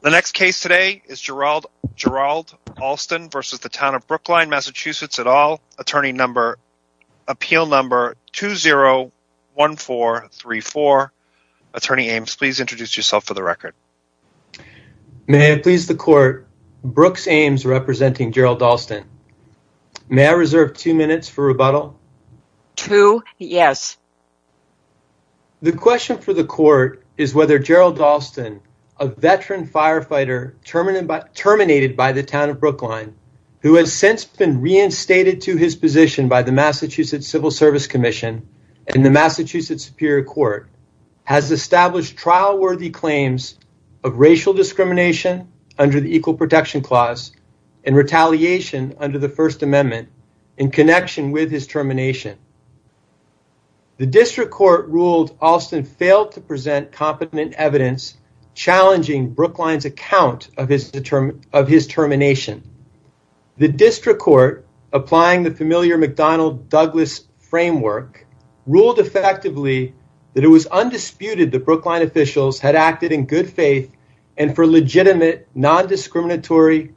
The next case today is Gerald Alston v. Town of Brookline, MA at all, appeal number 201434. Attorney Ames, please introduce yourself for the record. May I please the court, Brooks Ames representing Gerald Alston. May I reserve two minutes for rebuttal? Two, yes. The question for the court is whether Gerald Alston, a veteran firefighter terminated by the Town of Brookline, who has since been reinstated to his position by the Massachusetts Civil Service Commission and the Massachusetts Superior Court, has established trial worthy claims of racial discrimination under the Equal Protection Clause and retaliation under the First Amendment in the District Court ruled Alston failed to present competent evidence challenging Brookline's account of his termination. The District Court applying the familiar McDonnell-Douglas framework ruled effectively that it was undisputed that Brookline officials had acted in good faith and for legitimate non-discriminatory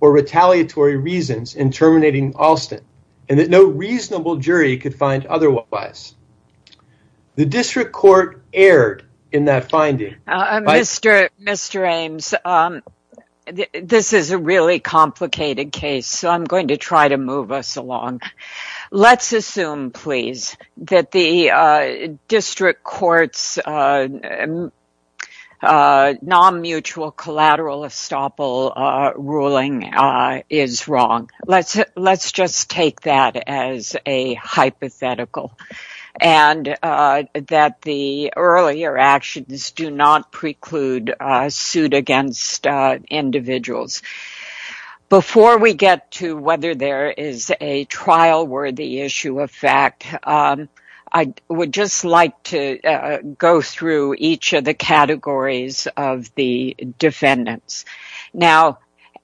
or retaliatory reasons in terminating Alston and that no reasonable jury could find otherwise. The District Court erred in that finding. Mr. Ames, this is a really complicated case so I'm going to try to move us along. Let's assume, please, that the District Court's non-mutual collateral estoppel ruling is wrong. Let's just take that as a hypothetical and that the earlier actions do not preclude a suit against individuals. Before we get to whether there is a trial worthy issue of fact, I would just like to go through each of the categories of the defendants.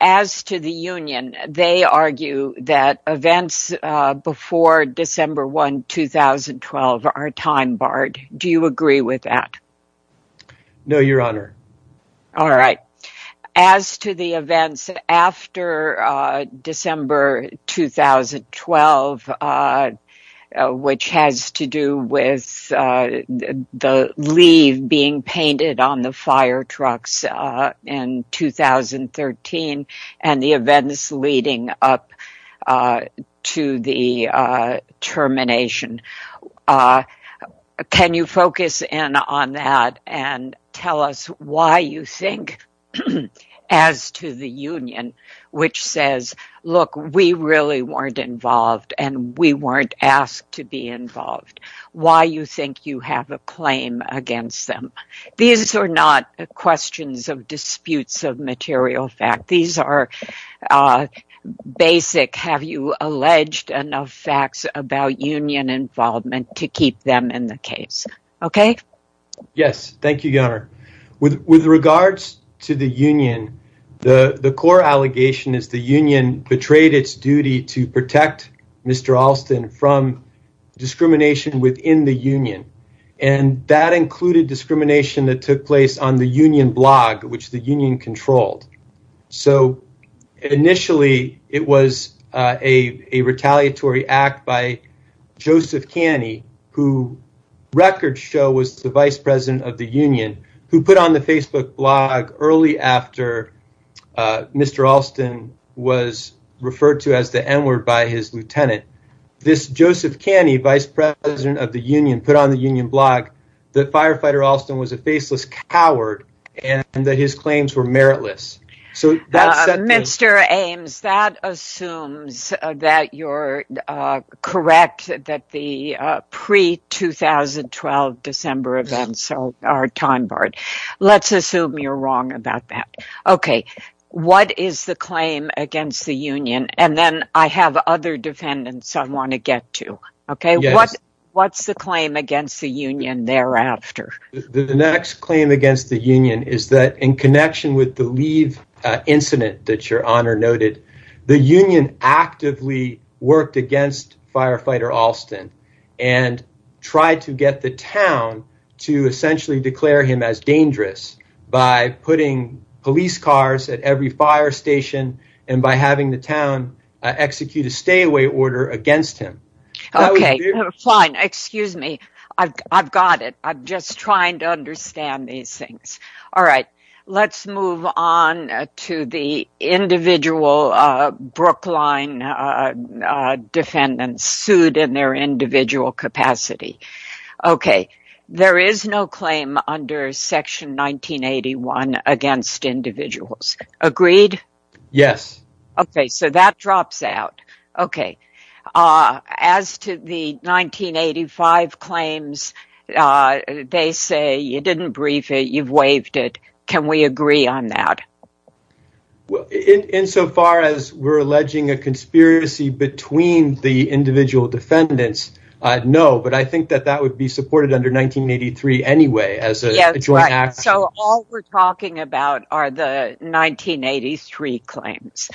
As to the union, they argue that events before December 1, 2012 are time-barred. Do you agree with that? No, Your Honor. All right. As to the events after December 2012, which has to do with the leave being painted on the fire trucks in 2013 and the events leading up to the As to the union, which says, look, we really weren't involved and we weren't asked to be involved. Why do you think you have a claim against them? These are not questions of disputes of material fact. These are basic, have you alleged enough facts about union involvement to keep them in the case. Okay? With regards to the union, the core allegation is the union betrayed its duty to protect Mr. Alston from discrimination within the union. And that included discrimination that took place on the union blog, which the union controlled. So initially, it was a retaliatory act by Joseph Caney, who record show was the Facebook blog early after Mr. Alston was referred to as the N-word by his lieutenant. This Joseph Caney, vice president of the union, put on the union blog that Firefighter Alston was a faceless coward and that his claims were meritless. Mr. Ames, that assumes that you're correct that the pre-2012 December events are time barred. Let's assume you're wrong about that. Okay. What is the claim against the union? And then I have other defendants I want to get to. Okay. What's the claim against the union thereafter? The next claim against the union is that in connection with the leave incident that your honor noted, the union actively worked against Firefighter Alston and tried to get the town to essentially declare him as dangerous by putting police cars at every fire station and by having the town execute a stay away order against him. Okay, fine. Excuse me. I've got it. I'm just trying to understand these things. All right. Let's move on to the individual Brookline defendants sued in their individual capacity. Okay. There is no claim under section 1981 against individuals. Agreed? Yes. Okay, so that drops out. Okay. As to the 1985 claims, they say you didn't brief it, you've waived it. Can we agree on that? Well, in so far as we're alleging a conspiracy between the individual defendants, no, but I think that that would be supported under 1983 anyway, as a joint act. So all we're talking about are the 1983 claims,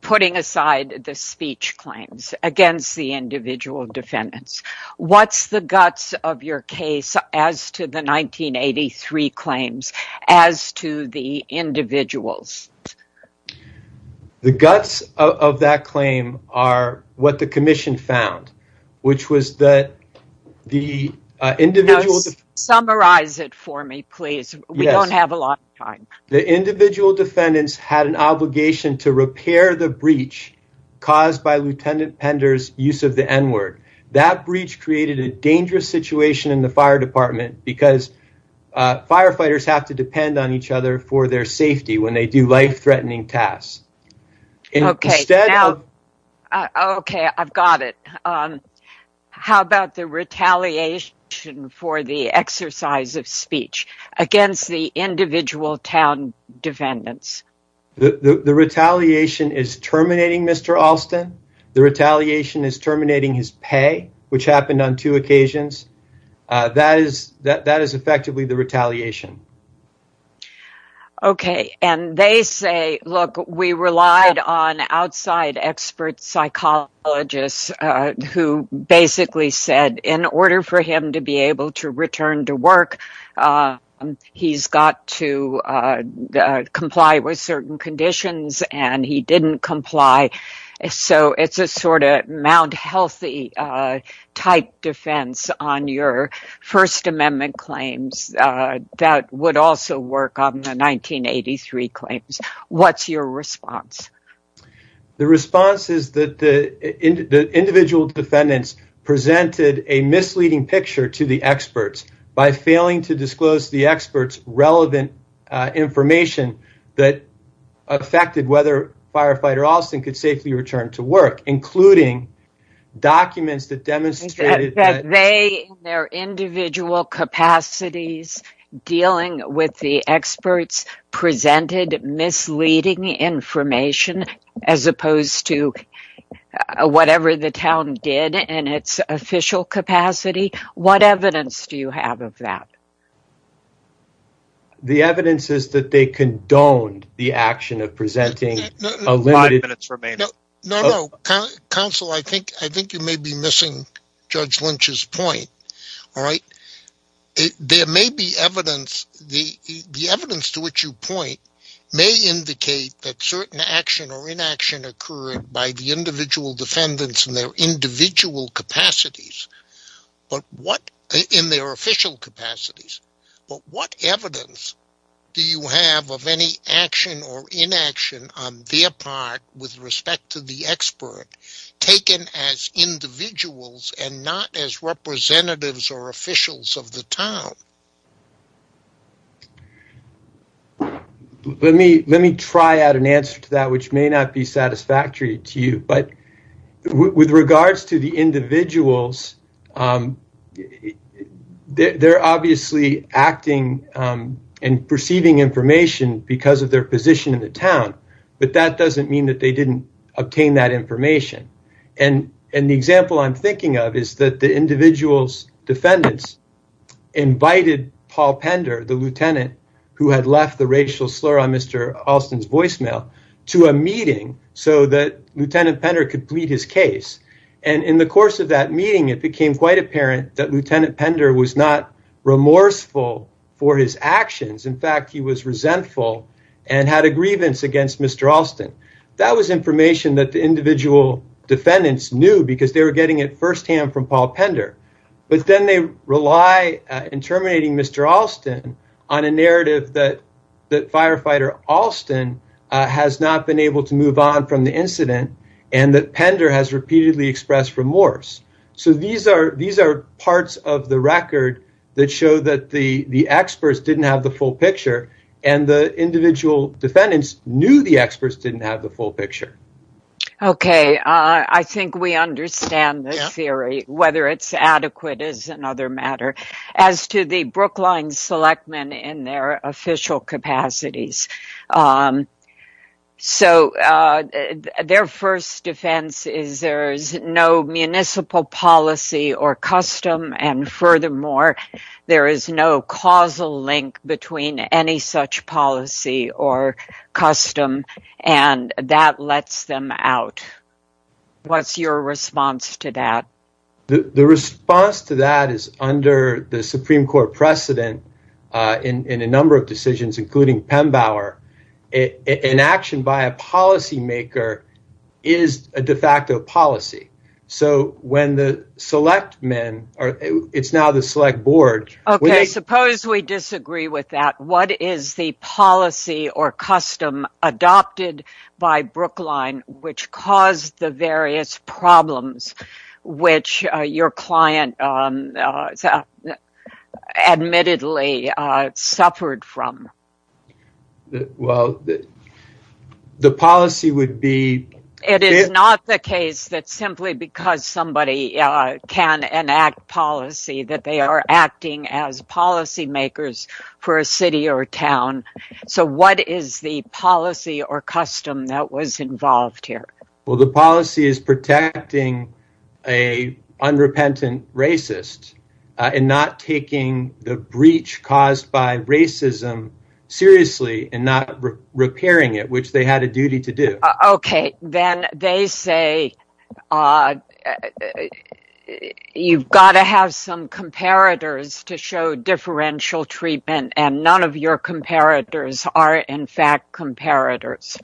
putting aside the speech claims against the individual defendants. What's the guts of your case as to the 1983 claims as to the individuals? The guts of that claim are what the commission found, which was that the individual... Summarize it for me, please. We don't have a lot of time. The individual defendants had an obligation to repair the breach caused by Lieutenant Pender's use of the N-word. That breach created a dangerous situation in the fire department because firefighters have to depend on each other for their safety when they do life-threatening tasks. Okay, I've got it. How about the retaliation for the exercise of speech against the individual town defendants? The retaliation is terminating Mr. Alston. The retaliation is terminating his two occasions. That is effectively the retaliation. Okay, and they say, look, we relied on outside expert psychologists who basically said in order for him to be able to return to work, he's got to comply with certain conditions and he didn't comply. So it's a sort of ground-healthy type defense on your First Amendment claims that would also work on the 1983 claims. What's your response? The response is that the individual defendants presented a misleading picture to the experts by failing to disclose to the experts relevant information that affected whether Firefighter Alston could safely return to work, including documents that demonstrated that they, in their individual capacities, dealing with the experts presented misleading information, as opposed to whatever the town did in its official capacity. What evidence do you have of that? The evidence is that they condoned the action of presenting a limited... No, no, counsel, I think you may be missing Judge Lynch's point, all right? There may be evidence, the evidence to which you point may indicate that certain action or inaction occurred by the individual defendants in their individual capacities, but what, in their official capacities, but what with respect to the expert, taken as individuals and not as representatives or officials of the town? Let me try out an answer to that, which may not be satisfactory to you, but with regards to the individuals, they're obviously acting and perceiving information because of their position in the town, but that doesn't mean that they didn't obtain that information, and the example I'm thinking of is that the individual's defendants invited Paul Pender, the lieutenant who had left the racial slur on Mr. Alston's voicemail, to a meeting so that Lieutenant Pender could plead his case, and in the course of that meeting, it became quite apparent that Lieutenant Pender was not remorseful for his actions. In fact, he was resentful and had a grievance against Mr. Alston. That was information that the individual defendants knew because they were getting it firsthand from Paul Pender, but then they rely, in terminating Mr. Alston, on a narrative that Firefighter Alston has not been able to move on from the incident and that Pender has repeatedly expressed remorse. So, these are parts of the record that show that the experts didn't have the full picture. Okay, I think we understand the theory, whether it's adequate is another matter. As to the Brookline selectmen in their official capacities, so their first defense is there's no municipal policy or custom, and furthermore, there is no causal link between any such policy or custom, and that lets them out. What's your response to that? The response to that is under the Supreme Court precedent in a number of decisions, including Pembauer, an action by a policymaker is a de facto policy. So, when the selectmen, or it's now the select board... Okay, suppose we disagree with that. What is the policy or custom adopted by Brookline, which caused the various problems, which your client admittedly suffered from? Well, the policy would be... It is not the case that simply because somebody can enact policy that they are acting as policymakers for a city or a town. So, what is the policy or custom that was involved here? Well, the policy is protecting a unrepentant racist, and not taking the breach caused by racism seriously, and not repairing it, which they had a duty to do. Okay, then they say you've got to have some comparators to show differential treatment, and none of your comparators are in fact comparators.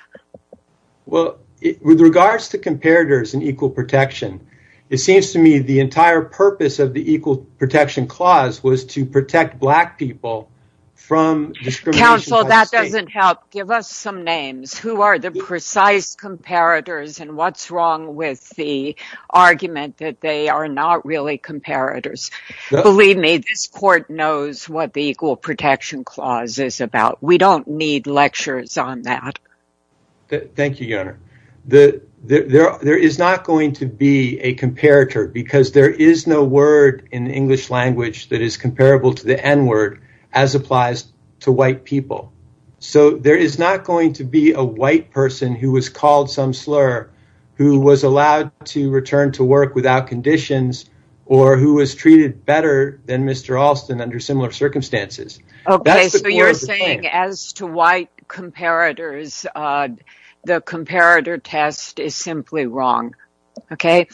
Well, with regards to comparators and equal protection, it seems to me the entire purpose of the Equal Protection Clause was to protect black people from discrimination by the state. Counsel, that doesn't help. Give us some names. Who are the precise comparators, and what's wrong with the argument that they are not really comparators? Believe me, this court knows what the Equal Protection Clause is about. We don't need lectures on that. Thank you, Your Honor. There is not going to be a comparator, because there is no word in the English language that is comparable to the N-word, as applies to white people. So, there is not going to be a white person who was called some slur, who was allowed to return to work without conditions, or who was treated better than Mr. Alston under similar circumstances. Okay, so you're saying as to white comparators, the comparator test is simply wrong, okay?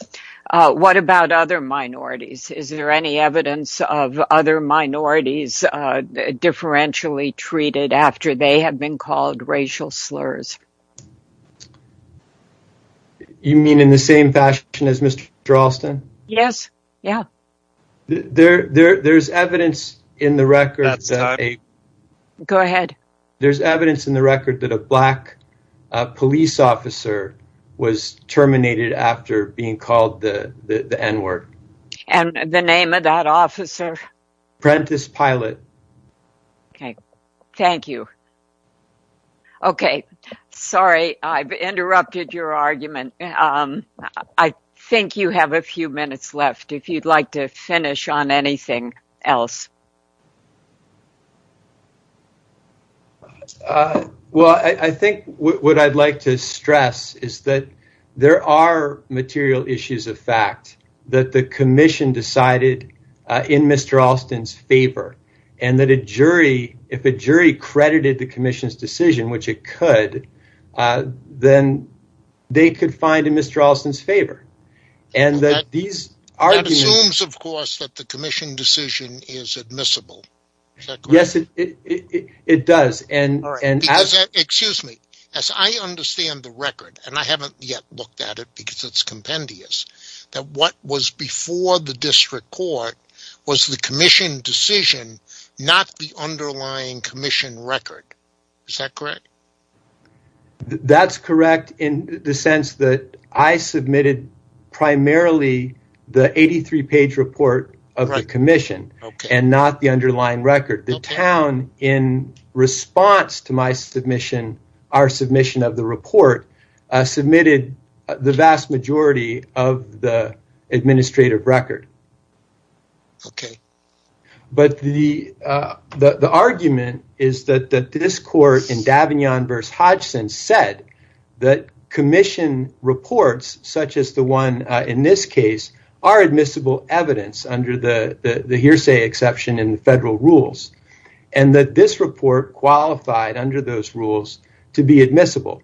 What about other minorities? Is there any evidence of other minorities differentially treated after they have been called racial slurs? You mean in the same fashion as Mr. Alston? Yes. Yeah. There's evidence in the record that a black police officer was terminated after being called the N-word. And the name of that officer? Prentice Pilot. Okay, thank you. Okay, sorry, I've interrupted your argument. I think you have a few minutes left, if you'd like to finish on anything else. Well, I think what I'd like to stress is that there are material issues of fact that the commission decided in Mr. Alston's favor, and that if a jury credited the commission's decision, which it could, then they could find in Mr. Alston's favor. That assumes, of course, that the commission decision is admissible. Is that correct? Yes, it does. Because, excuse me, as I understand the record, and I haven't yet looked at it because it's compendious, that what was before the district court was the commission decision, not the underlying commission record. Is that correct? That's correct in the sense that I submitted primarily the 83-page report of the commission, and not the underlying record. The town, in response to my submission, our submission of the report, submitted the vast majority of the administrative record. But the argument is that this court, in Davignon v. Hodgson, said that commission reports, such as the one in this case, are admissible evidence under the hearsay exception in the federal rules, and that this report qualified under those rules to be admissible,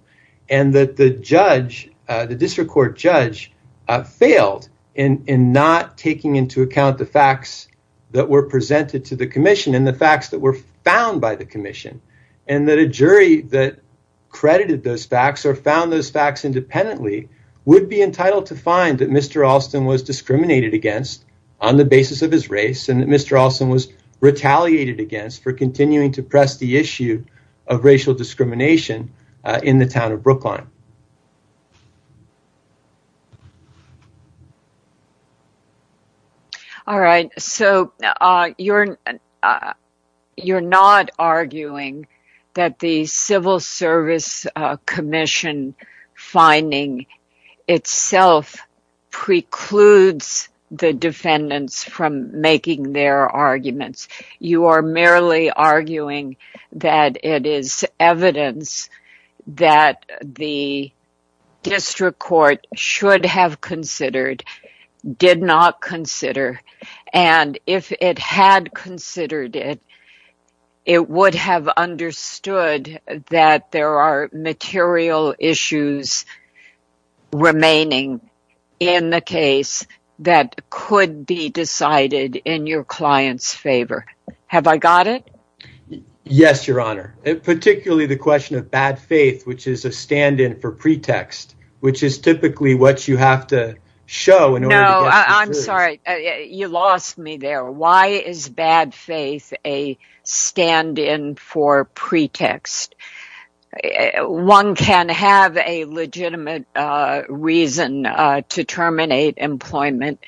and that the district court judge failed in not taking into account the facts that were presented to the commission, and the facts that were found by the commission, and that a jury that credited those facts, or found those facts independently, would be entitled to find that Mr. Alston was discriminated against on the basis of his race, and that the district court judge failed to press the issue of racial discrimination in the town of Brookline. All right, so you're not arguing that the Civil Service Commission finding itself precludes the defendants from making their arguments. You are merely arguing that it is evidence that the district court should have considered, did not consider, and if it had considered it, it would have understood that there are material issues remaining in the case that could be decided in your client's favor. Have I got it? Yes, Your Honor. Particularly the question of bad faith, which is a stand-in for pretext, which is typically what you have to show in order to get the jury's... No, I'm sorry, you lost me there. Why is bad faith a stand-in for pretext? One can have a legitimate reason to terminate employment.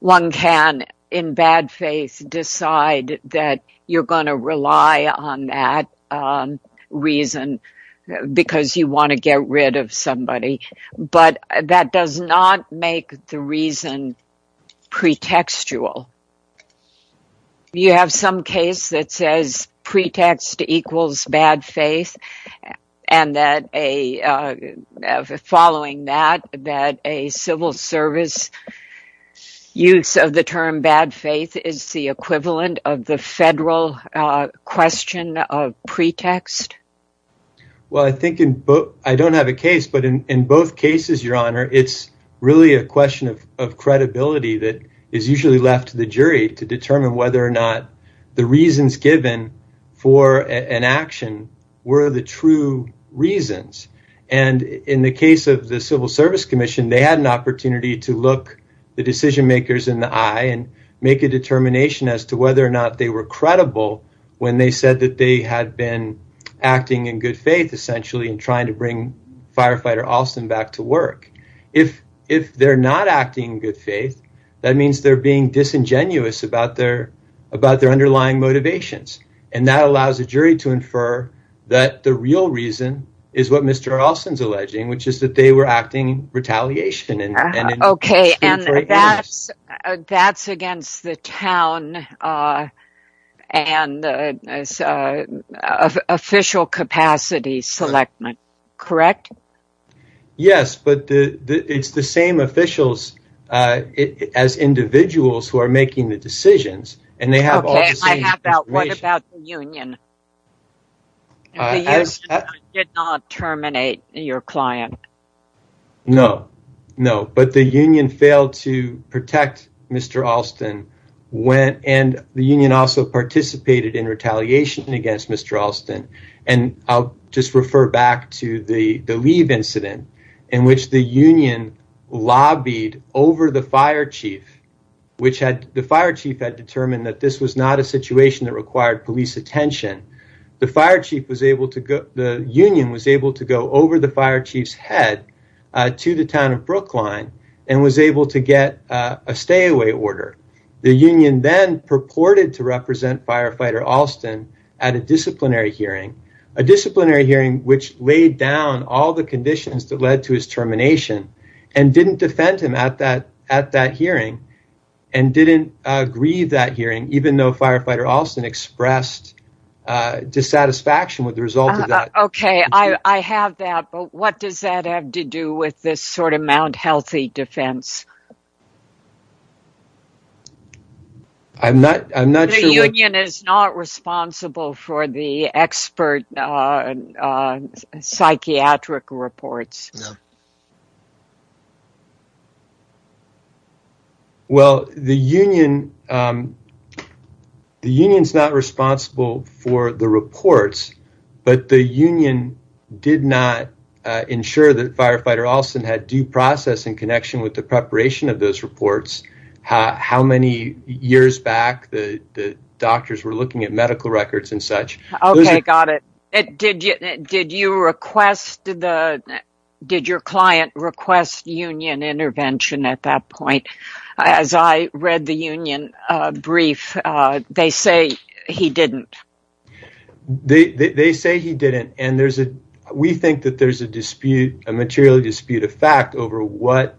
One can, in bad faith, decide that you're going to rely on that reason because you want to get rid of somebody. But that does not make the reason pretextual. You have some case that says pretext equals bad faith, and that following that, a civil service use of the term bad faith is the equivalent of the federal question of pretext. Well, I don't have a case, but in both cases, Your Honor, it's really a question of credibility that is usually left to the jury to determine whether or not the reasons given for an action were the true reasons. In the case of the Civil Service Commission, they had an opportunity to look the decision-makers in the eye and make a determination as to whether or not they were credible when they said that they had been acting in good faith, essentially, and trying to bring Firefighter Alston back to work. If they're not acting in good faith, that means they're being disingenuous about their underlying motivations. And that allows the jury to infer that the real reason is what Mr. Alston is alleging, which is that they were acting in retaliation. Okay, and that's against the town and official capacity selectment, correct? Yes, but it's the same officials as individuals who are making the decisions. Okay, and what about the union? The union did not terminate your client. No, no. But the union failed to protect Mr. Alston, and the union also participated in retaliation against Mr. Alston. And I'll just refer back to the leave incident in which the union lobbied over the fire chief had determined that this was not a situation that required police attention. The fire chief was able to go, the union was able to go over the fire chief's head to the town of Brookline and was able to get a stay-away order. The union then purported to represent Firefighter Alston at a disciplinary hearing, a disciplinary hearing which laid down all the conditions that led to his termination, and didn't defend him at that hearing, and didn't grieve that hearing, even though Firefighter Alston expressed dissatisfaction with the result of that. Okay, I have that, but what does that have to do with this sort of Mount Healthy defense? The union is not responsible for the expert psychiatric reports. No. Well, the union is not responsible for the reports, but the union did not ensure that Firefighter Alston had due process in connection with the preparation of those reports, how many years back the doctors were looking at medical records and such. Okay, got it. Did your client request union intervention at that point? As I read the union brief, they say he didn't. They say he didn't, and we think that there's a dispute, a material dispute of fact over what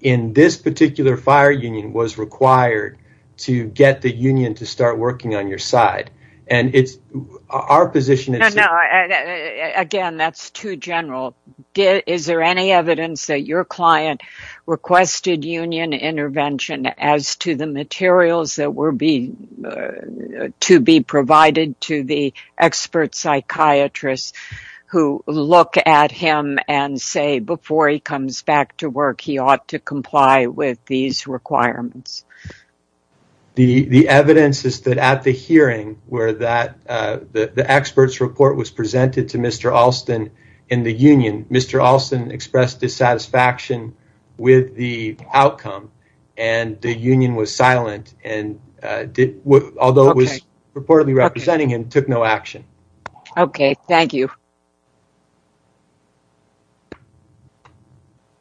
in this particular fire union was required to get the union to start Again, that's too general. Is there any evidence that your client requested union intervention as to the materials that were to be provided to the expert psychiatrists who look at him and say before he comes back to work, he ought to comply with these requirements? The evidence is that at the hearing where the expert's report was presented to Mr. Alston in the union, Mr. Alston expressed dissatisfaction with the outcome and the union was silent, although it was reportedly representing him, took no action. Okay, thank you.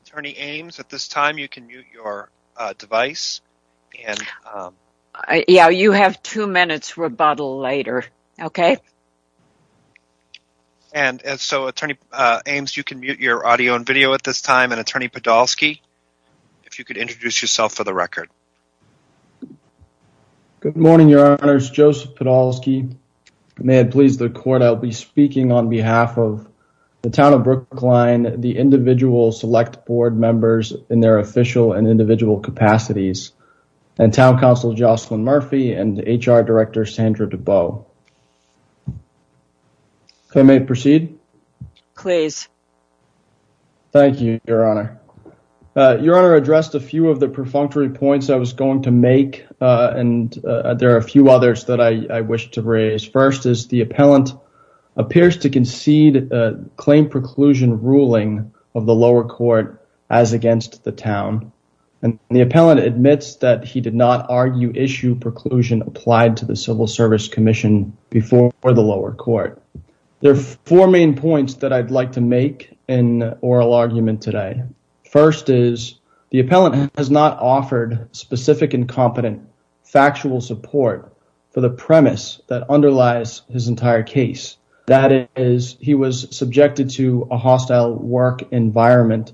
Attorney Ames, at this time, you can mute your device. Yeah, you have two minutes rebuttal later, okay? And so, Attorney Ames, you can mute your audio and video at this time, and Attorney Podolsky, if you could introduce yourself for the record. Good morning, Your Honors. Joseph Podolsky. May it please the Court, I'll be speaking on behalf of the Town of Brookline, the individual select board members in their official and individual capacities, and Town Council Jocelyn Murphy and HR Director Sandra Dubow. If I may proceed? Please. Thank you, Your Honor. Your Honor addressed a few of the perfunctory points I was going to make, and there are a few others that I wish to raise. First is the appellant appears to concede a claim preclusion ruling of the lower court as against the Town, and the appellant admits that he did not argue issue preclusion applied to the Civil Service Commission before the lower court. There are four main points that I'd like to make in oral argument today. First is the appellant has not offered specific and competent factual support for the premise that underlies his entire case. That is, he was subjected to a hostile work environment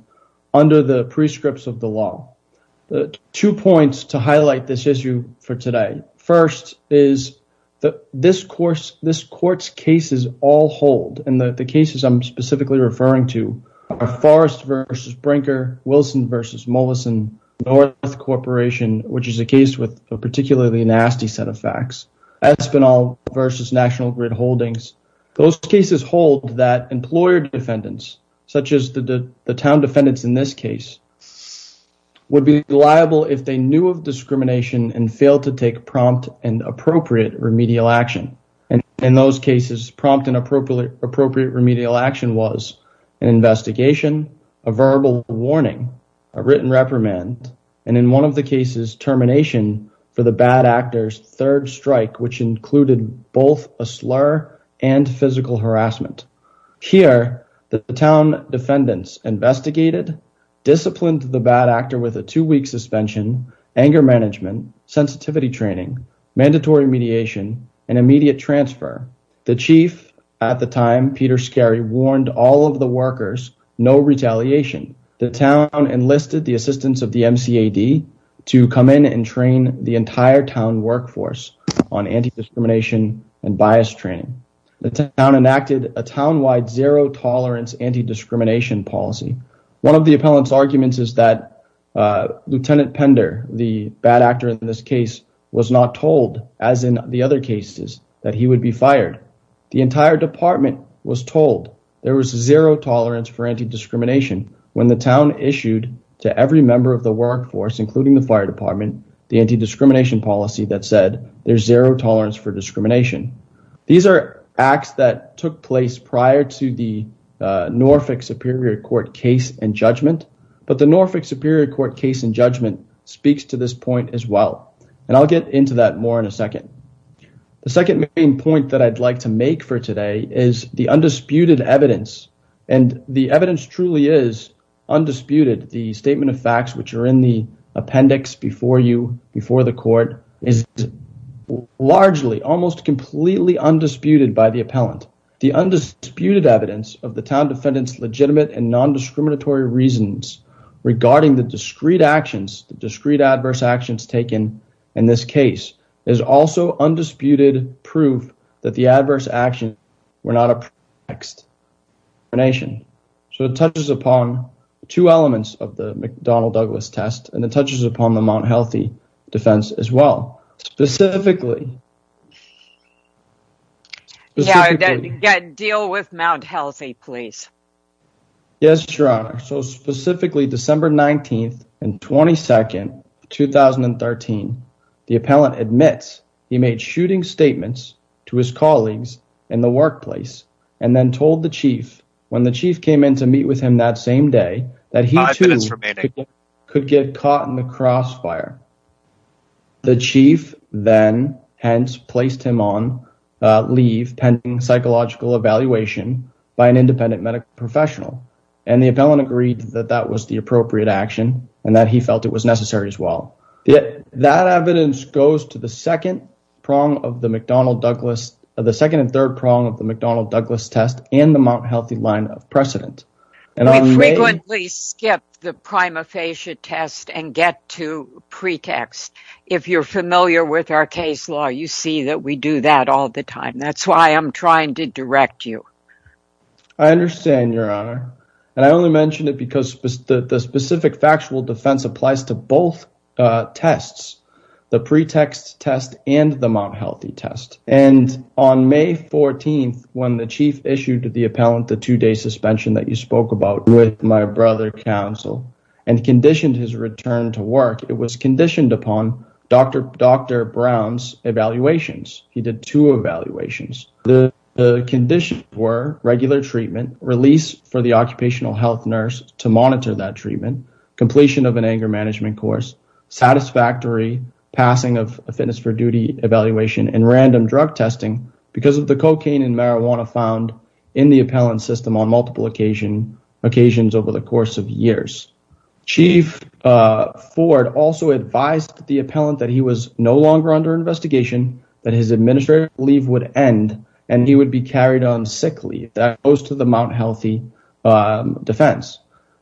under the prescripts of the law. Two points to highlight this issue for today. First is that this Court's cases all hold, and the cases I'm specifically referring to are Forrest v. Brinker, Wilson v. Mollison, North Corporation, which is a case with a particularly nasty set of facts, Espinal v. National Grid Holdings. Those cases hold that employer defendants, such as the town defendants in this case, would be liable if they knew of discrimination and failed to take prompt and appropriate remedial action. In those cases, prompt and appropriate remedial action was an investigation, a verbal warning, a written reprimand, and in one of the cases, termination for the bad actor's third strike, which included both a slur and physical harassment. Here, the town defendants investigated, disciplined the bad actor with a two-week suspension, anger management, sensitivity training, mandatory mediation, and immediate transfer. The chief at the time, Peter Skerry, warned all of the workers, no retaliation. The town enlisted the assistance of the MCAD to come in and train the entire town workforce on anti-discrimination and bias training. The town enacted a town-wide zero-tolerance anti-discrimination policy. One of the appellant's arguments is that Lieutenant Pender, the bad actor in this case, was not told, as in the other cases, that he would be fired. The entire department was told there was zero tolerance for anti-discrimination when the town issued to every member of the workforce, including the fire department, the anti-discrimination policy that said there's zero tolerance for discrimination. These are acts that took place prior to the Norfolk Superior Court case and judgment, but the Norfolk Superior Court case and judgment speaks to this point as well, and I'll get into that more in a second. The second main point that I'd like to make for today is the undisputed evidence, and the evidence truly is undisputed. The statement of facts, which are in the appendix before you, before the court, is largely, almost completely, undisputed by the appellant. The undisputed evidence of the town defendant's legitimate and non-discriminatory reasons regarding the discrete actions, the discrete adverse actions taken in this case, is also undisputed proof that the adverse actions were not a pretext for discrimination. So, it touches upon two elements of the McDonnell-Douglas test, and it touches upon the Mount Healthy defense as well. Specifically... Yes, Your Honor. So, specifically, December 19th and 22nd, 2013, the appellant admits he made shooting statements to his colleagues in the workplace, and then told the chief when the chief came in to meet with him that same day, that he too could get caught in the crossfire. The chief then, hence, placed him on leave pending psychological evaluation by an independent medical professional. And the appellant agreed that that was the appropriate action, and that he felt it was necessary as well. That evidence goes to the second prong of the McDonnell-Douglas, the second and third prong of the McDonnell-Douglas test, and the Mount Healthy line of precedent. We frequently skip the prima facie test and get to pretext. If you're familiar with our case law, you see that we do that all the time. That's why I'm trying to direct you. I understand, Your Honor, and I only mention it because the specific factual defense applies to both tests, the pretext test and the Mount Healthy test. And on May 14th, when the chief issued to the appellant the two-day suspension that you spoke about with my brother counsel, and conditioned his return to work, it was conditioned upon Dr. Brown's evaluations. He did two evaluations. The conditions were regular treatment, release for the occupational health nurse to monitor that treatment, completion of an anger management course, satisfactory passing of a fitness for duty evaluation, and random drug testing because of the cocaine and marijuana found in the appellant's system on multiple occasions over the course of years. Chief Ford also advised the appellant that he was no longer under investigation, that his administrative leave would end, and he would be carried on sick leave. That goes to the Mount Healthy defense.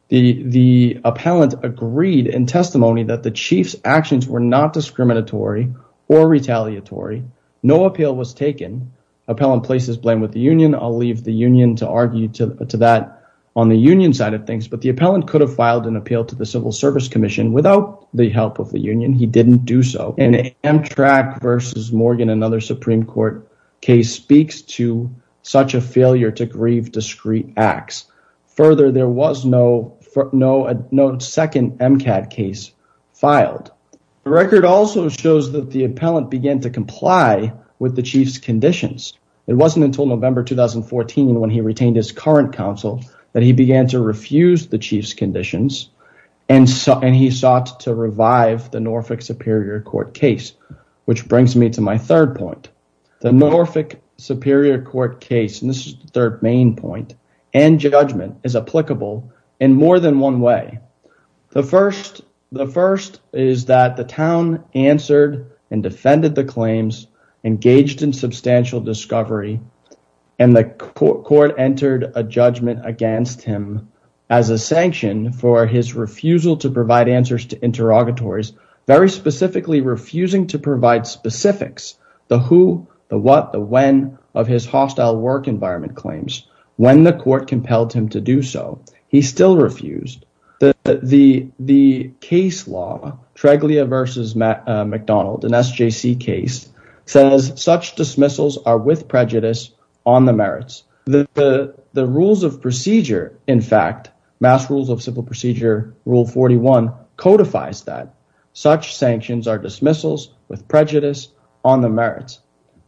The appellant agreed in testimony that the chief's actions were not discriminatory or retaliatory. No appeal was taken. Appellant placed his blame with the union. I'll leave the union to argue to that on the union side of things. But the appellant could have filed an appeal to the Civil Service Commission without the help of the union. He didn't do so. An Amtrak versus Morgan, another Supreme Court case, speaks to such a failure to grieve discreet acts. Further, there was no second MCAT case filed. The record also shows that the appellant began to comply with the chief's conditions. It wasn't until November 2014, when he retained his current counsel, that he began to refuse the chief's conditions, and he sought to revive the Norfolk Superior Court case, which brings me to my third point. The Norfolk Superior Court case, and this is the third main point, and judgment is applicable in more than one way. The first is that the town answered and defended the claims, engaged in substantial discovery, and the court entered a judgment against him as a sanction for his refusal to provide answers to interrogatories, very specifically refusing to provide specifics. The who, the what, the when of his hostile work environment claims. When the court compelled him to do so, he still refused. The case law, Treglia versus McDonald, an SJC case, says such dismissals are with prejudice on the merits. The rules of procedure, in fact, Mass Rules of Civil Procedure Rule 41 codifies that. Such sanctions are dismissals with prejudice on the merits.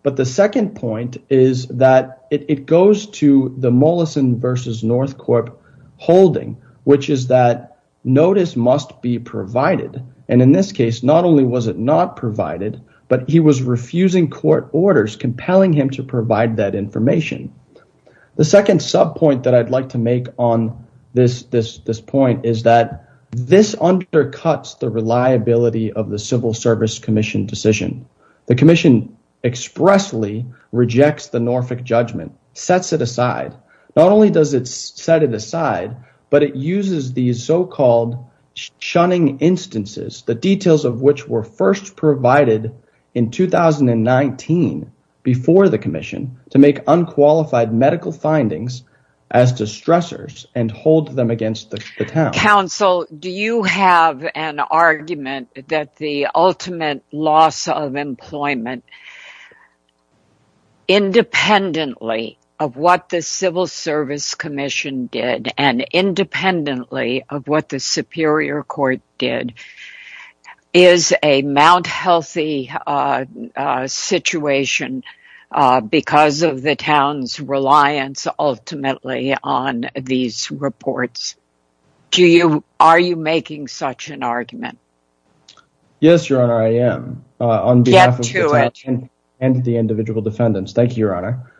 But the second point is that it goes to the Mollison versus Northcorp holding, which is that notice must be provided, and in this case, not only was it not provided, but he was refusing court orders compelling him to provide that information. The second sub point that I'd like to make on this point is that this undercuts the reliability of the Civil Service Commission decision. The commission expressly rejects the Norfolk judgment, sets it aside. Not only does it set it aside, but it uses these so-called shunning instances, the details of which were first provided in 2019 before the commission, to make unqualified medical findings as distressors and hold them against the town. Counsel, do you have an argument that the ultimate loss of employment, independently of what the Civil Service Commission did and independently of what the Superior Court did, is a Mount Healthy situation because of the town's reliance ultimately on these reports? Are you making such an argument? Yes, Your Honor, I am. Get to it. On behalf of the town and the individual defendants. Thank you, Your Honor.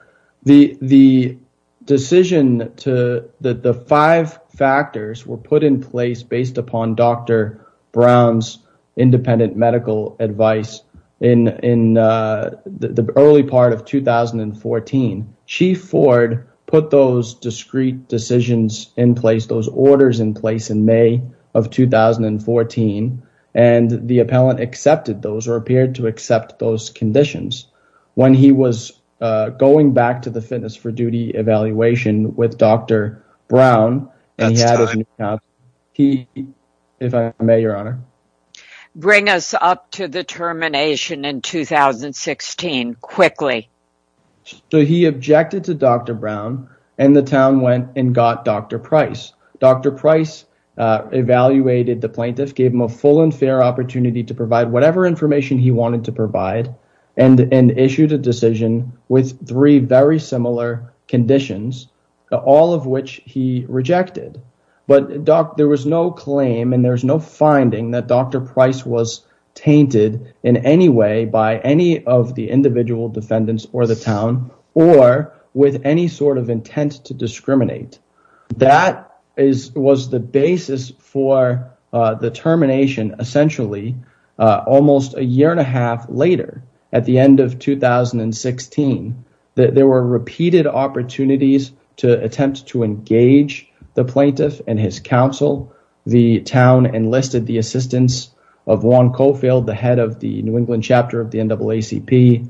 The decision that the five factors were put in place based upon Dr. Brown's independent medical advice in the early part of 2014, Chief Ford put those discrete decisions in place, those orders in place in May of 2014, and the appellant accepted those or appeared to accept those conditions. When he was going back to the fitness for duty evaluation with Dr. Brown. That's time. If I may, Your Honor. Bring us up to the termination in 2016 quickly. So he objected to Dr. Brown and the town went and got Dr. Price. Dr. Price evaluated the plaintiff, gave him a full and fair opportunity to provide whatever information he wanted to provide and issued a decision with three very similar conditions, all of which he rejected. But there was no claim and there was no finding that Dr. Price was tainted in any way by any of the individual defendants or the town or with any sort of intent to discriminate. That is was the basis for the termination. Essentially, almost a year and a half later, at the end of 2016, that there were repeated opportunities to attempt to engage the plaintiff and his counsel. The town enlisted the assistance of Juan Cofield, the head of the New England chapter of the NAACP,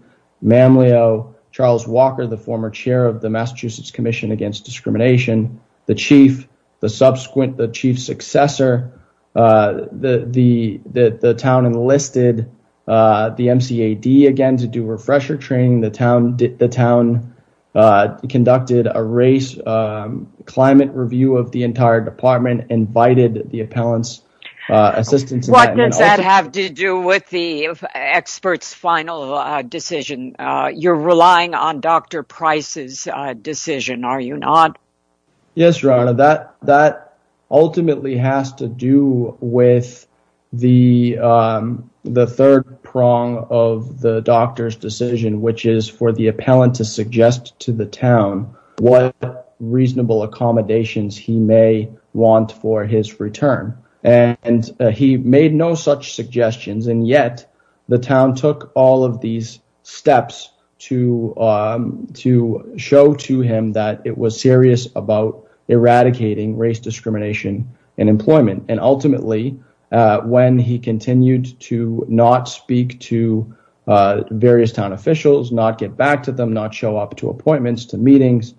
Charles Walker, the former chair of the Massachusetts Commission Against Discrimination, the chief, the subsequent, the chief successor. The town enlisted the MCAD again to do refresher training. The town conducted a race climate review of the entire department, invited the appellant's assistance. What does that have to do with the expert's final decision? You're relying on Dr. Price's decision, are you not? Yes, Your Honor, that ultimately has to do with the third prong of the doctor's decision, which is for the appellant to suggest to the town what reasonable accommodations he may want for his return. And he made no such suggestions. And yet the town took all of these steps to to show to him that it was serious about eradicating race, discrimination and employment. And ultimately, when he continued to not speak to various town officials, not get back to them, not show up to appointments, to meetings,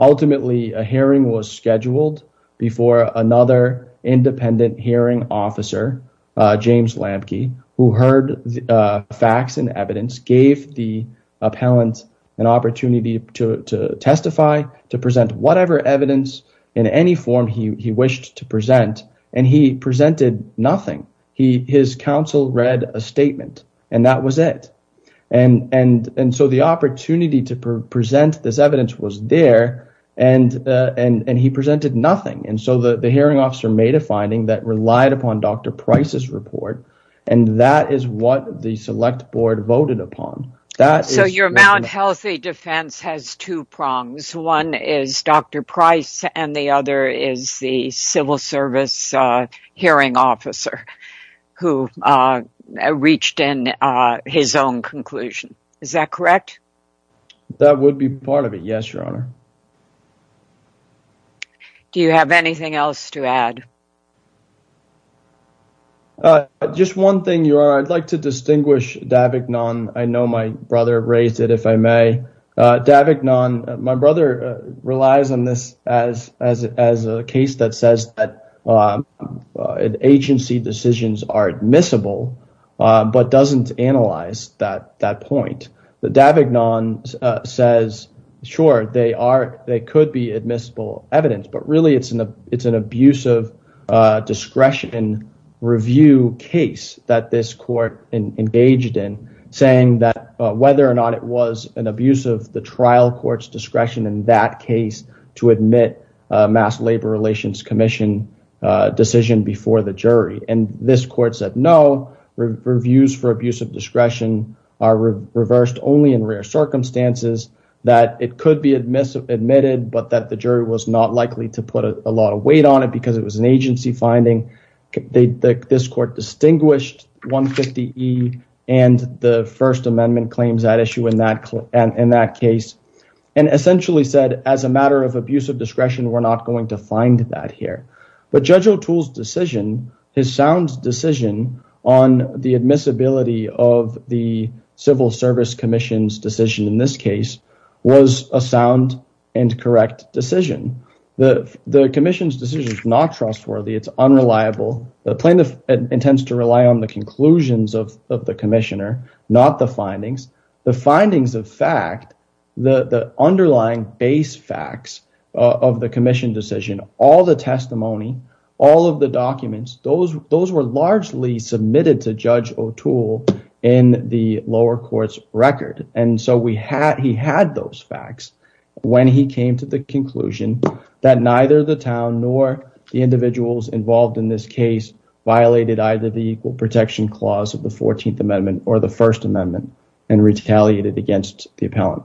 ultimately a hearing was scheduled before another independent hearing officer, James Lamke, who heard the facts and evidence, gave the appellant an opportunity to testify, to present whatever evidence in any form he wished to present. And he presented nothing. He his counsel read a statement and that was it. And so the opportunity to present this evidence was there and he presented nothing. And so the hearing officer made a finding that relied upon Dr. Price's report. And that is what the select board voted upon. So your Mount Healthy defense has two prongs. One is Dr. Price and the other is the civil service hearing officer who reached in his own conclusion. Is that correct? That would be part of it. Yes, Your Honor. Do you have anything else to add? Just one thing, Your Honor. I'd like to distinguish Davignon. I know my brother raised it, if I may. Davignon, my brother, relies on this as as as a case that says that agency decisions are admissible, but doesn't analyze that that point that Davignon says. Sure, they are. They could be admissible evidence. But really, it's an it's an abusive discretion and review case that this court engaged in, saying that whether or not it was an abuse of the trial court's discretion in that case to admit mass labor relations commission decision before the jury. And this court said, no, reviews for abuse of discretion are reversed only in rare circumstances that it could be admitted, admitted, but that the jury was not likely to put a lot of weight on it because it was an agency finding. This court distinguished 150 E and the First Amendment claims that issue in that and in that case, and essentially said as a matter of abuse of discretion, we're not going to find that here. But Judge O'Toole's decision, his sound decision on the admissibility of the Civil Service Commission's decision in this case, was a sound and correct decision. The commission's decision is not trustworthy. It's unreliable. The plaintiff intends to rely on the conclusions of the commissioner, not the findings. The findings of fact, the underlying base facts of the commission decision, all the testimony, all of the documents, those those were largely submitted to Judge O'Toole in the lower court's record. And so we had, he had those facts when he came to the conclusion that neither the town nor the individuals involved in this case, violated either the equal protection clause of the 14th Amendment or the First Amendment and retaliated against the appellant.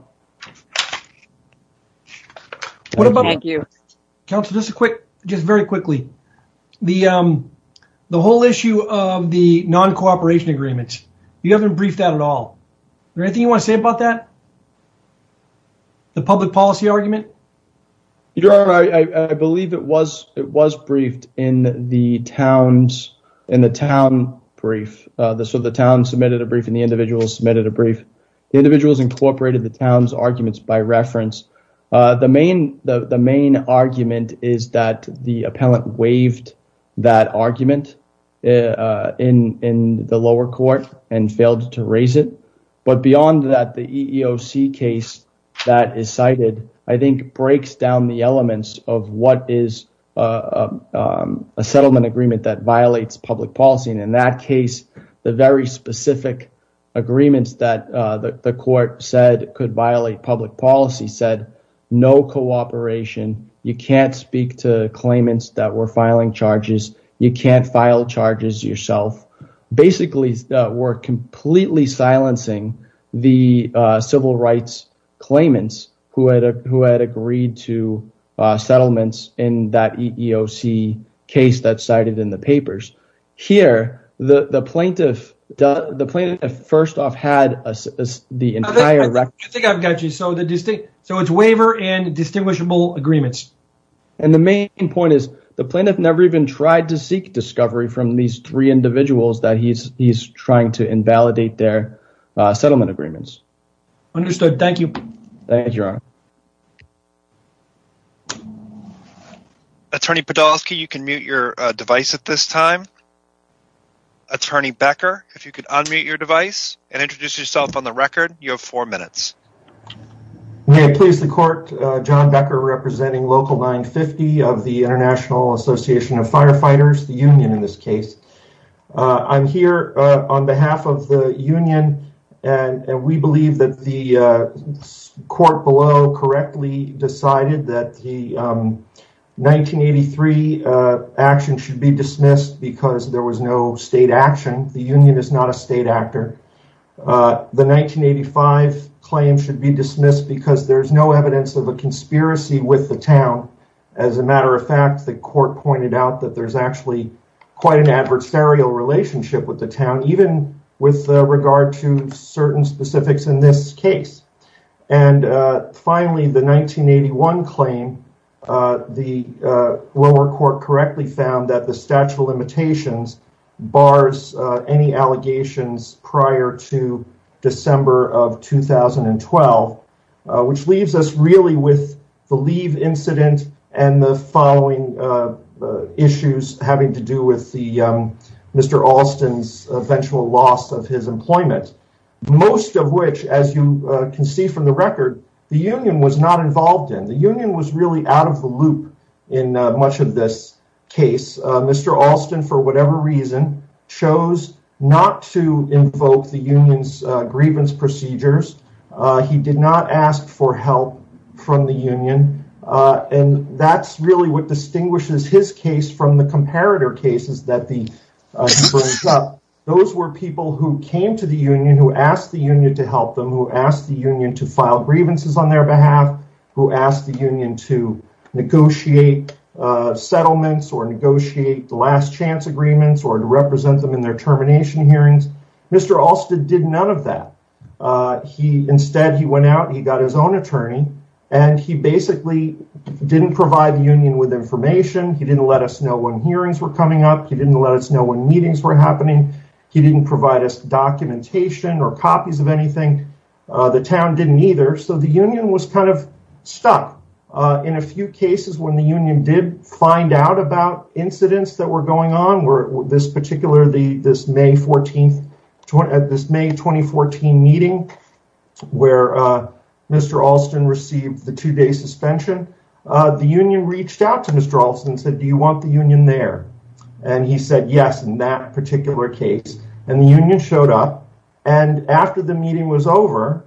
What about you? Councilor, just a quick, just very quickly. The whole issue of the non-cooperation agreements, you haven't briefed that at all. Is there anything you want to say about that? The public policy argument? Your Honor, I believe it was, it was briefed in the town's, in the town brief. So the town submitted a brief and the individuals submitted a brief. The individuals incorporated the town's arguments by reference. The main the main argument is that the appellant waived that argument in in the lower court and failed to raise it. But beyond that, the EEOC case that is cited, I think, breaks down the elements of what is a settlement agreement that violates public policy. And in that case, the very specific agreements that the court said could violate public policy said no cooperation. You can't speak to claimants that were filing charges. You can't file charges yourself. Basically, we're completely silencing the civil rights claimants who had who had agreed to settlements in that EEOC case that's cited in the papers. Here, the plaintiff, the plaintiff, first off, had the entire record. I think I've got you. So the distinct, so it's waiver and distinguishable agreements. And the main point is the plaintiff never even tried to seek discovery from these three individuals that he's he's trying to invalidate their settlement agreements. Thank you, Your Honor. Attorney Podolsky, you can mute your device at this time. Attorney Becker, if you could unmute your device and introduce yourself on the record. You have four minutes. May I please the court, John Becker, representing Local 950 of the International Association of Firefighters, the union in this case. I'm here on behalf of the union. And we believe that the court below correctly decided that the 1983 action should be dismissed because there was no state action. The union is not a state actor. The 1985 claim should be dismissed because there is no evidence of a conspiracy with the town. As a matter of fact, the court pointed out that there's actually quite an adversarial relationship with the town, even with regard to certain specifics in this case. And finally, the 1981 claim, the lower court correctly found that the statute of limitations bars any allegations prior to December of 2012, which leaves us really with the leave incident and the following issues having to do with the Mr. Most of which, as you can see from the record, the union was not involved in. The union was really out of the loop in much of this case. Mr. Alston, for whatever reason, chose not to invoke the union's grievance procedures. He did not ask for help from the union. And that's really what distinguishes his case from the comparator cases that the. Those were people who came to the union, who asked the union to help them, who asked the union to file grievances on their behalf, who asked the union to negotiate settlements or negotiate the last chance agreements or to represent them in their termination hearings. Mr. Alston did none of that. He instead, he went out, he got his own attorney, and he basically didn't provide the union with information. He didn't let us know when hearings were coming up. He didn't let us know when meetings were happening. He didn't provide us documentation or copies of anything. The town didn't either. So the union was kind of stuck in a few cases when the union did find out about incidents that were going on. This particular, this May 14th, this May 2014 meeting where Mr. Alston received the two day suspension, the union reached out to Mr. Alston and said, do you want the union there? And he said, yes, in that particular case. And the union showed up. And after the meeting was over,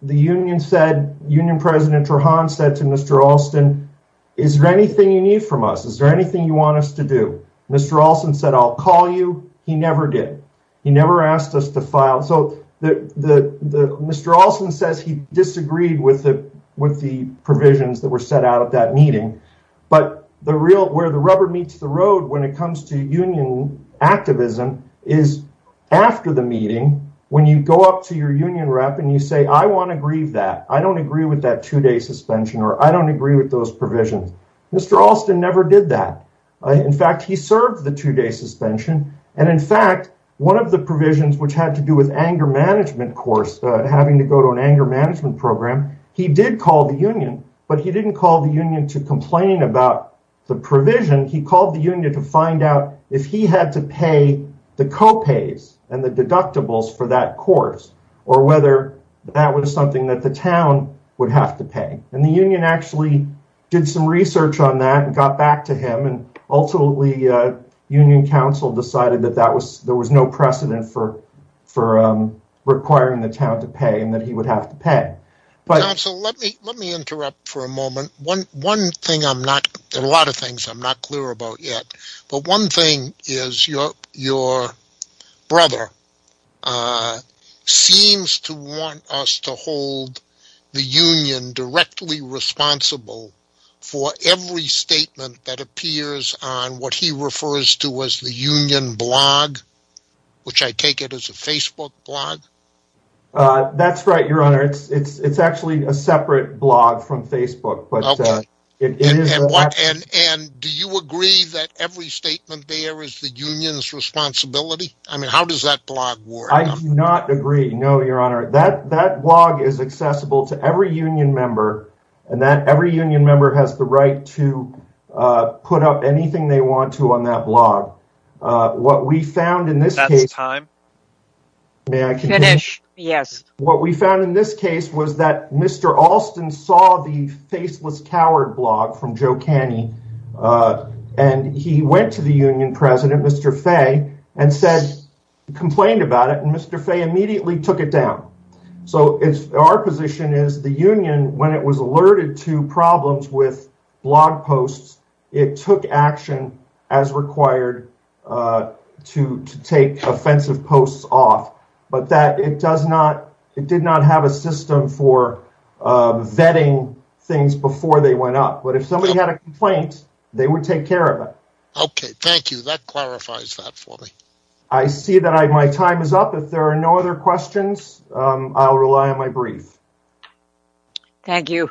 the union said, union president Rohan said to Mr. Alston, is there anything you need from us? Is there anything you want us to do? Mr. Alston said, I'll call you. He never did. He never asked us to file. So Mr. Alston says he disagreed with the provisions that were set out of that meeting. But the real, where the rubber meets the road when it comes to union activism is after the meeting, when you go up to your union rep and you say, I want to grieve that. I don't agree with that two day suspension or I don't agree with those provisions. Mr. Alston never did that. In fact, he served the two day suspension. And in fact, one of the provisions which had to do with anger management course, having to go to an anger management program. He did call the union, but he didn't call the union to complain about the provision. He called the union to find out if he had to pay the copays and the deductibles for that course or whether that was something that the town would have to pay. And the union actually did some research on that and got back to him. And ultimately, union council decided that there was no precedent for requiring the town to pay and that he would have to pay. Let me interrupt for a moment. One thing I'm not, there are a lot of things I'm not clear about yet. But one thing is your brother seems to want us to hold the union directly responsible for every statement that appears on what he refers to as the union blog, which I take it as a Facebook blog. That's right, your honor. It's actually a separate blog from Facebook. But it is. And do you agree that every statement there is the union's responsibility? I mean, how does that blog work? I do not agree. No, your honor, that that blog is accessible to every union member and that every union member has the right to put up anything they want to on that blog. What we found in this time. May I finish? Yes. What we found in this case was that Mr. Alston saw the faceless coward blog from Joe Kenny. And he went to the union president, Mr. Fay, and said, complained about it. And Mr. Fay immediately took it down. So if our position is the union, when it was alerted to problems with blog posts, it took action as required to take offensive posts off. But that it does not it did not have a system for vetting things before they went up. But if somebody had a complaint, they would take care of it. OK, thank you. That clarifies that for me. I see that my time is up. If there are no other questions, I'll rely on my brief. Thank you.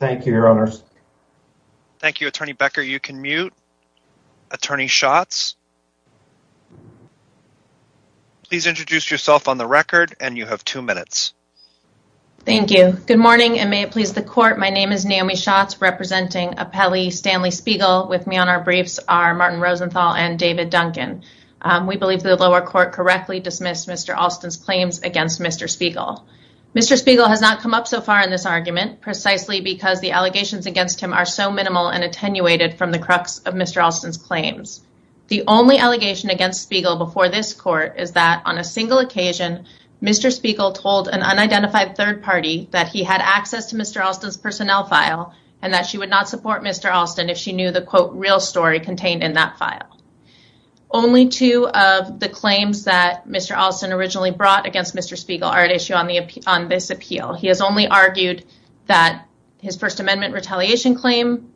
Thank you, your honors. Thank you, Attorney Becker. You can mute. Attorney Schatz. Please introduce yourself on the record. And you have two minutes. Thank you. Good morning. And may it please the court. My name is Naomi Schatz representing Appelli Stanley Spiegel. With me on our briefs are Martin Rosenthal and David Duncan. We believe the lower court correctly dismissed Mr. Alston's claims against Mr. Spiegel. Mr. Spiegel has not come up so far in this argument precisely because the allegations against him are so minimal and attenuated from the crux of Mr. Alston's claims. The only allegation against Spiegel before this court is that on a single occasion, Mr. Spiegel told an unidentified third party that he had access to Mr. Alston's personnel file. And that she would not support Mr. Alston if she knew the quote real story contained in that file. Only two of the claims that Mr. Alston originally brought against Mr. Spiegel are at issue on this appeal. He has only argued that his First Amendment retaliation claim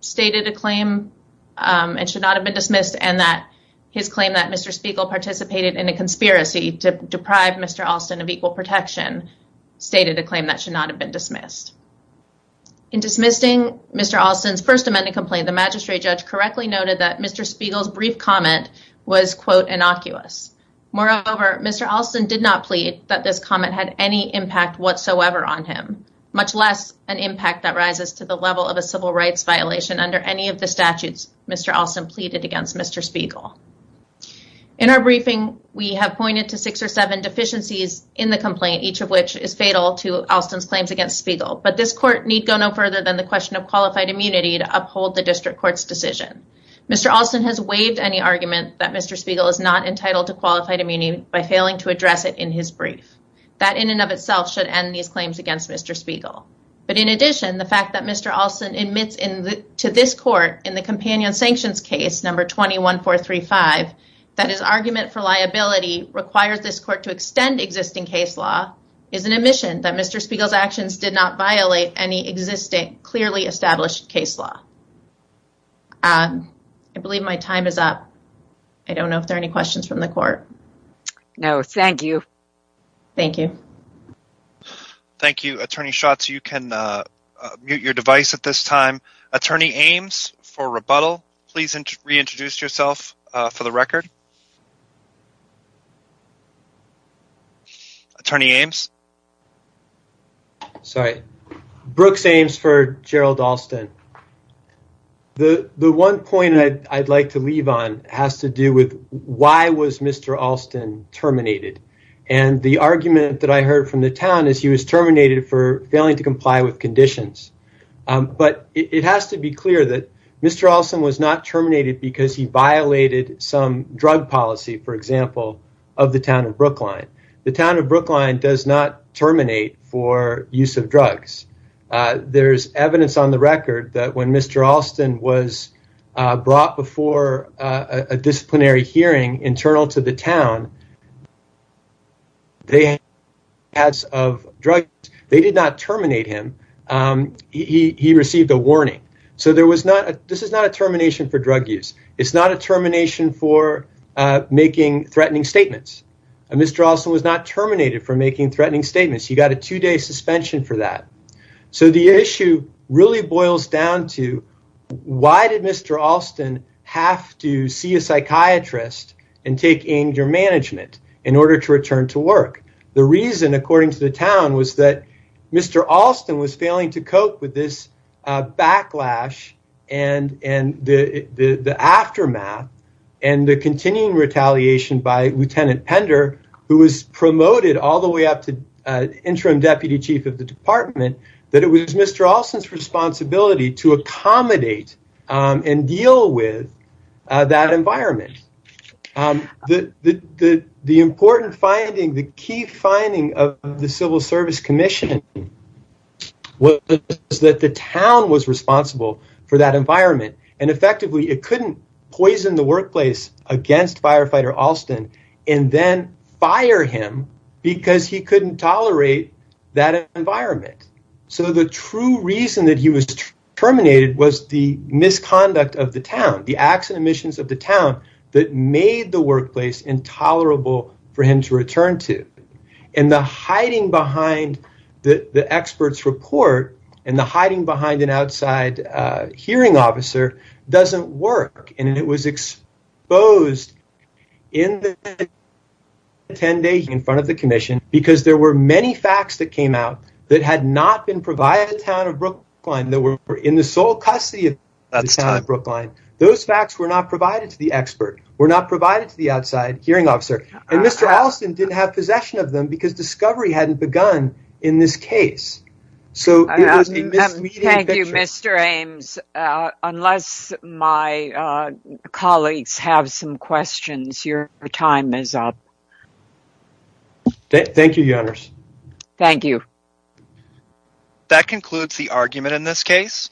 stated a claim and should not have been dismissed. And that his claim that Mr. Spiegel participated in a conspiracy to deprive Mr. Alston of equal protection stated a claim that should not have been dismissed. In dismissing Mr. Alston's First Amendment complaint, the magistrate judge correctly noted that Mr. Spiegel's brief comment was quote innocuous. Moreover, Mr. Alston did not plead that this comment had any impact whatsoever on him. Much less an impact that rises to the level of a civil rights violation under any of the statutes Mr. Alston pleaded against Mr. Spiegel. In our briefing, we have pointed to six or seven deficiencies in the complaint, each of which is fatal to Alston's claims against Spiegel. But this court need go no further than the question of qualified immunity to uphold the district court's decision. Mr. Alston has waived any argument that Mr. Spiegel is not entitled to qualified immunity by failing to address it in his brief. That in and of itself should end these claims against Mr. Spiegel. But in addition, the fact that Mr. Alston admits to this court in the companion sanctions case number 21-435, that his argument for liability requires this court to extend existing case law, is an admission that Mr. Spiegel's actions did not violate any existing clearly established case law. I believe my time is up. I don't know if there are any questions from the court. No, thank you. Thank you. Thank you, Attorney Schatz. You can mute your device at this time. Attorney Ames for rebuttal, please reintroduce yourself for the record. Attorney Ames. Sorry, Brooks Ames for Gerald Alston. The one point I'd like to leave on has to do with why was Mr. Alston terminated? And the argument that I heard from the town is he was terminated for failing to comply with conditions. But it has to be clear that Mr. Alston was not terminated because he violated some drug policy, for example, of the town of Brookline. The town of Brookline does not terminate for use of drugs. There's evidence on the record that when Mr. Alston was brought before a disciplinary hearing internal to the town. They had of drugs. They did not terminate him. He received a warning. So there was not a this is not a termination for drug use. It's not a termination for making threatening statements. And Mr. Alston was not terminated for making threatening statements. You got a two day suspension for that. So the issue really boils down to why did Mr. Alston have to see a psychiatrist and take in your management in order to return to work? The reason, according to the town, was that Mr. Alston was failing to cope with this backlash and and the aftermath and the continuing retaliation by Lieutenant Pender, who was promoted all the way up to interim deputy chief of the department, that it was Mr. Alston's responsibility to accommodate and deal with that environment. The important finding, the key finding of the Civil Service Commission was that the town was responsible for that environment. And effectively, it couldn't poison the workplace against firefighter Alston and then fire him because he couldn't tolerate that environment. So the true reason that he was terminated was the misconduct of the town, the accident missions of the town that made the workplace intolerable for him to return to. And the hiding behind the expert's report and the hiding behind an outside hearing officer doesn't work. And it was exposed in the attendee in front of the commission because there were many facts that came out that had not been provided. Town of Brookline that were in the sole custody of Brookline. Those facts were not provided to the expert, were not provided to the outside hearing officer. And Mr. Alston didn't have possession of them because discovery hadn't begun in this case. So it was a misleading picture. Thank you, Mr. Ames. Unless my colleagues have some questions, your time is up. Thank you, Your Honors. Thank you. That concludes the argument in this case.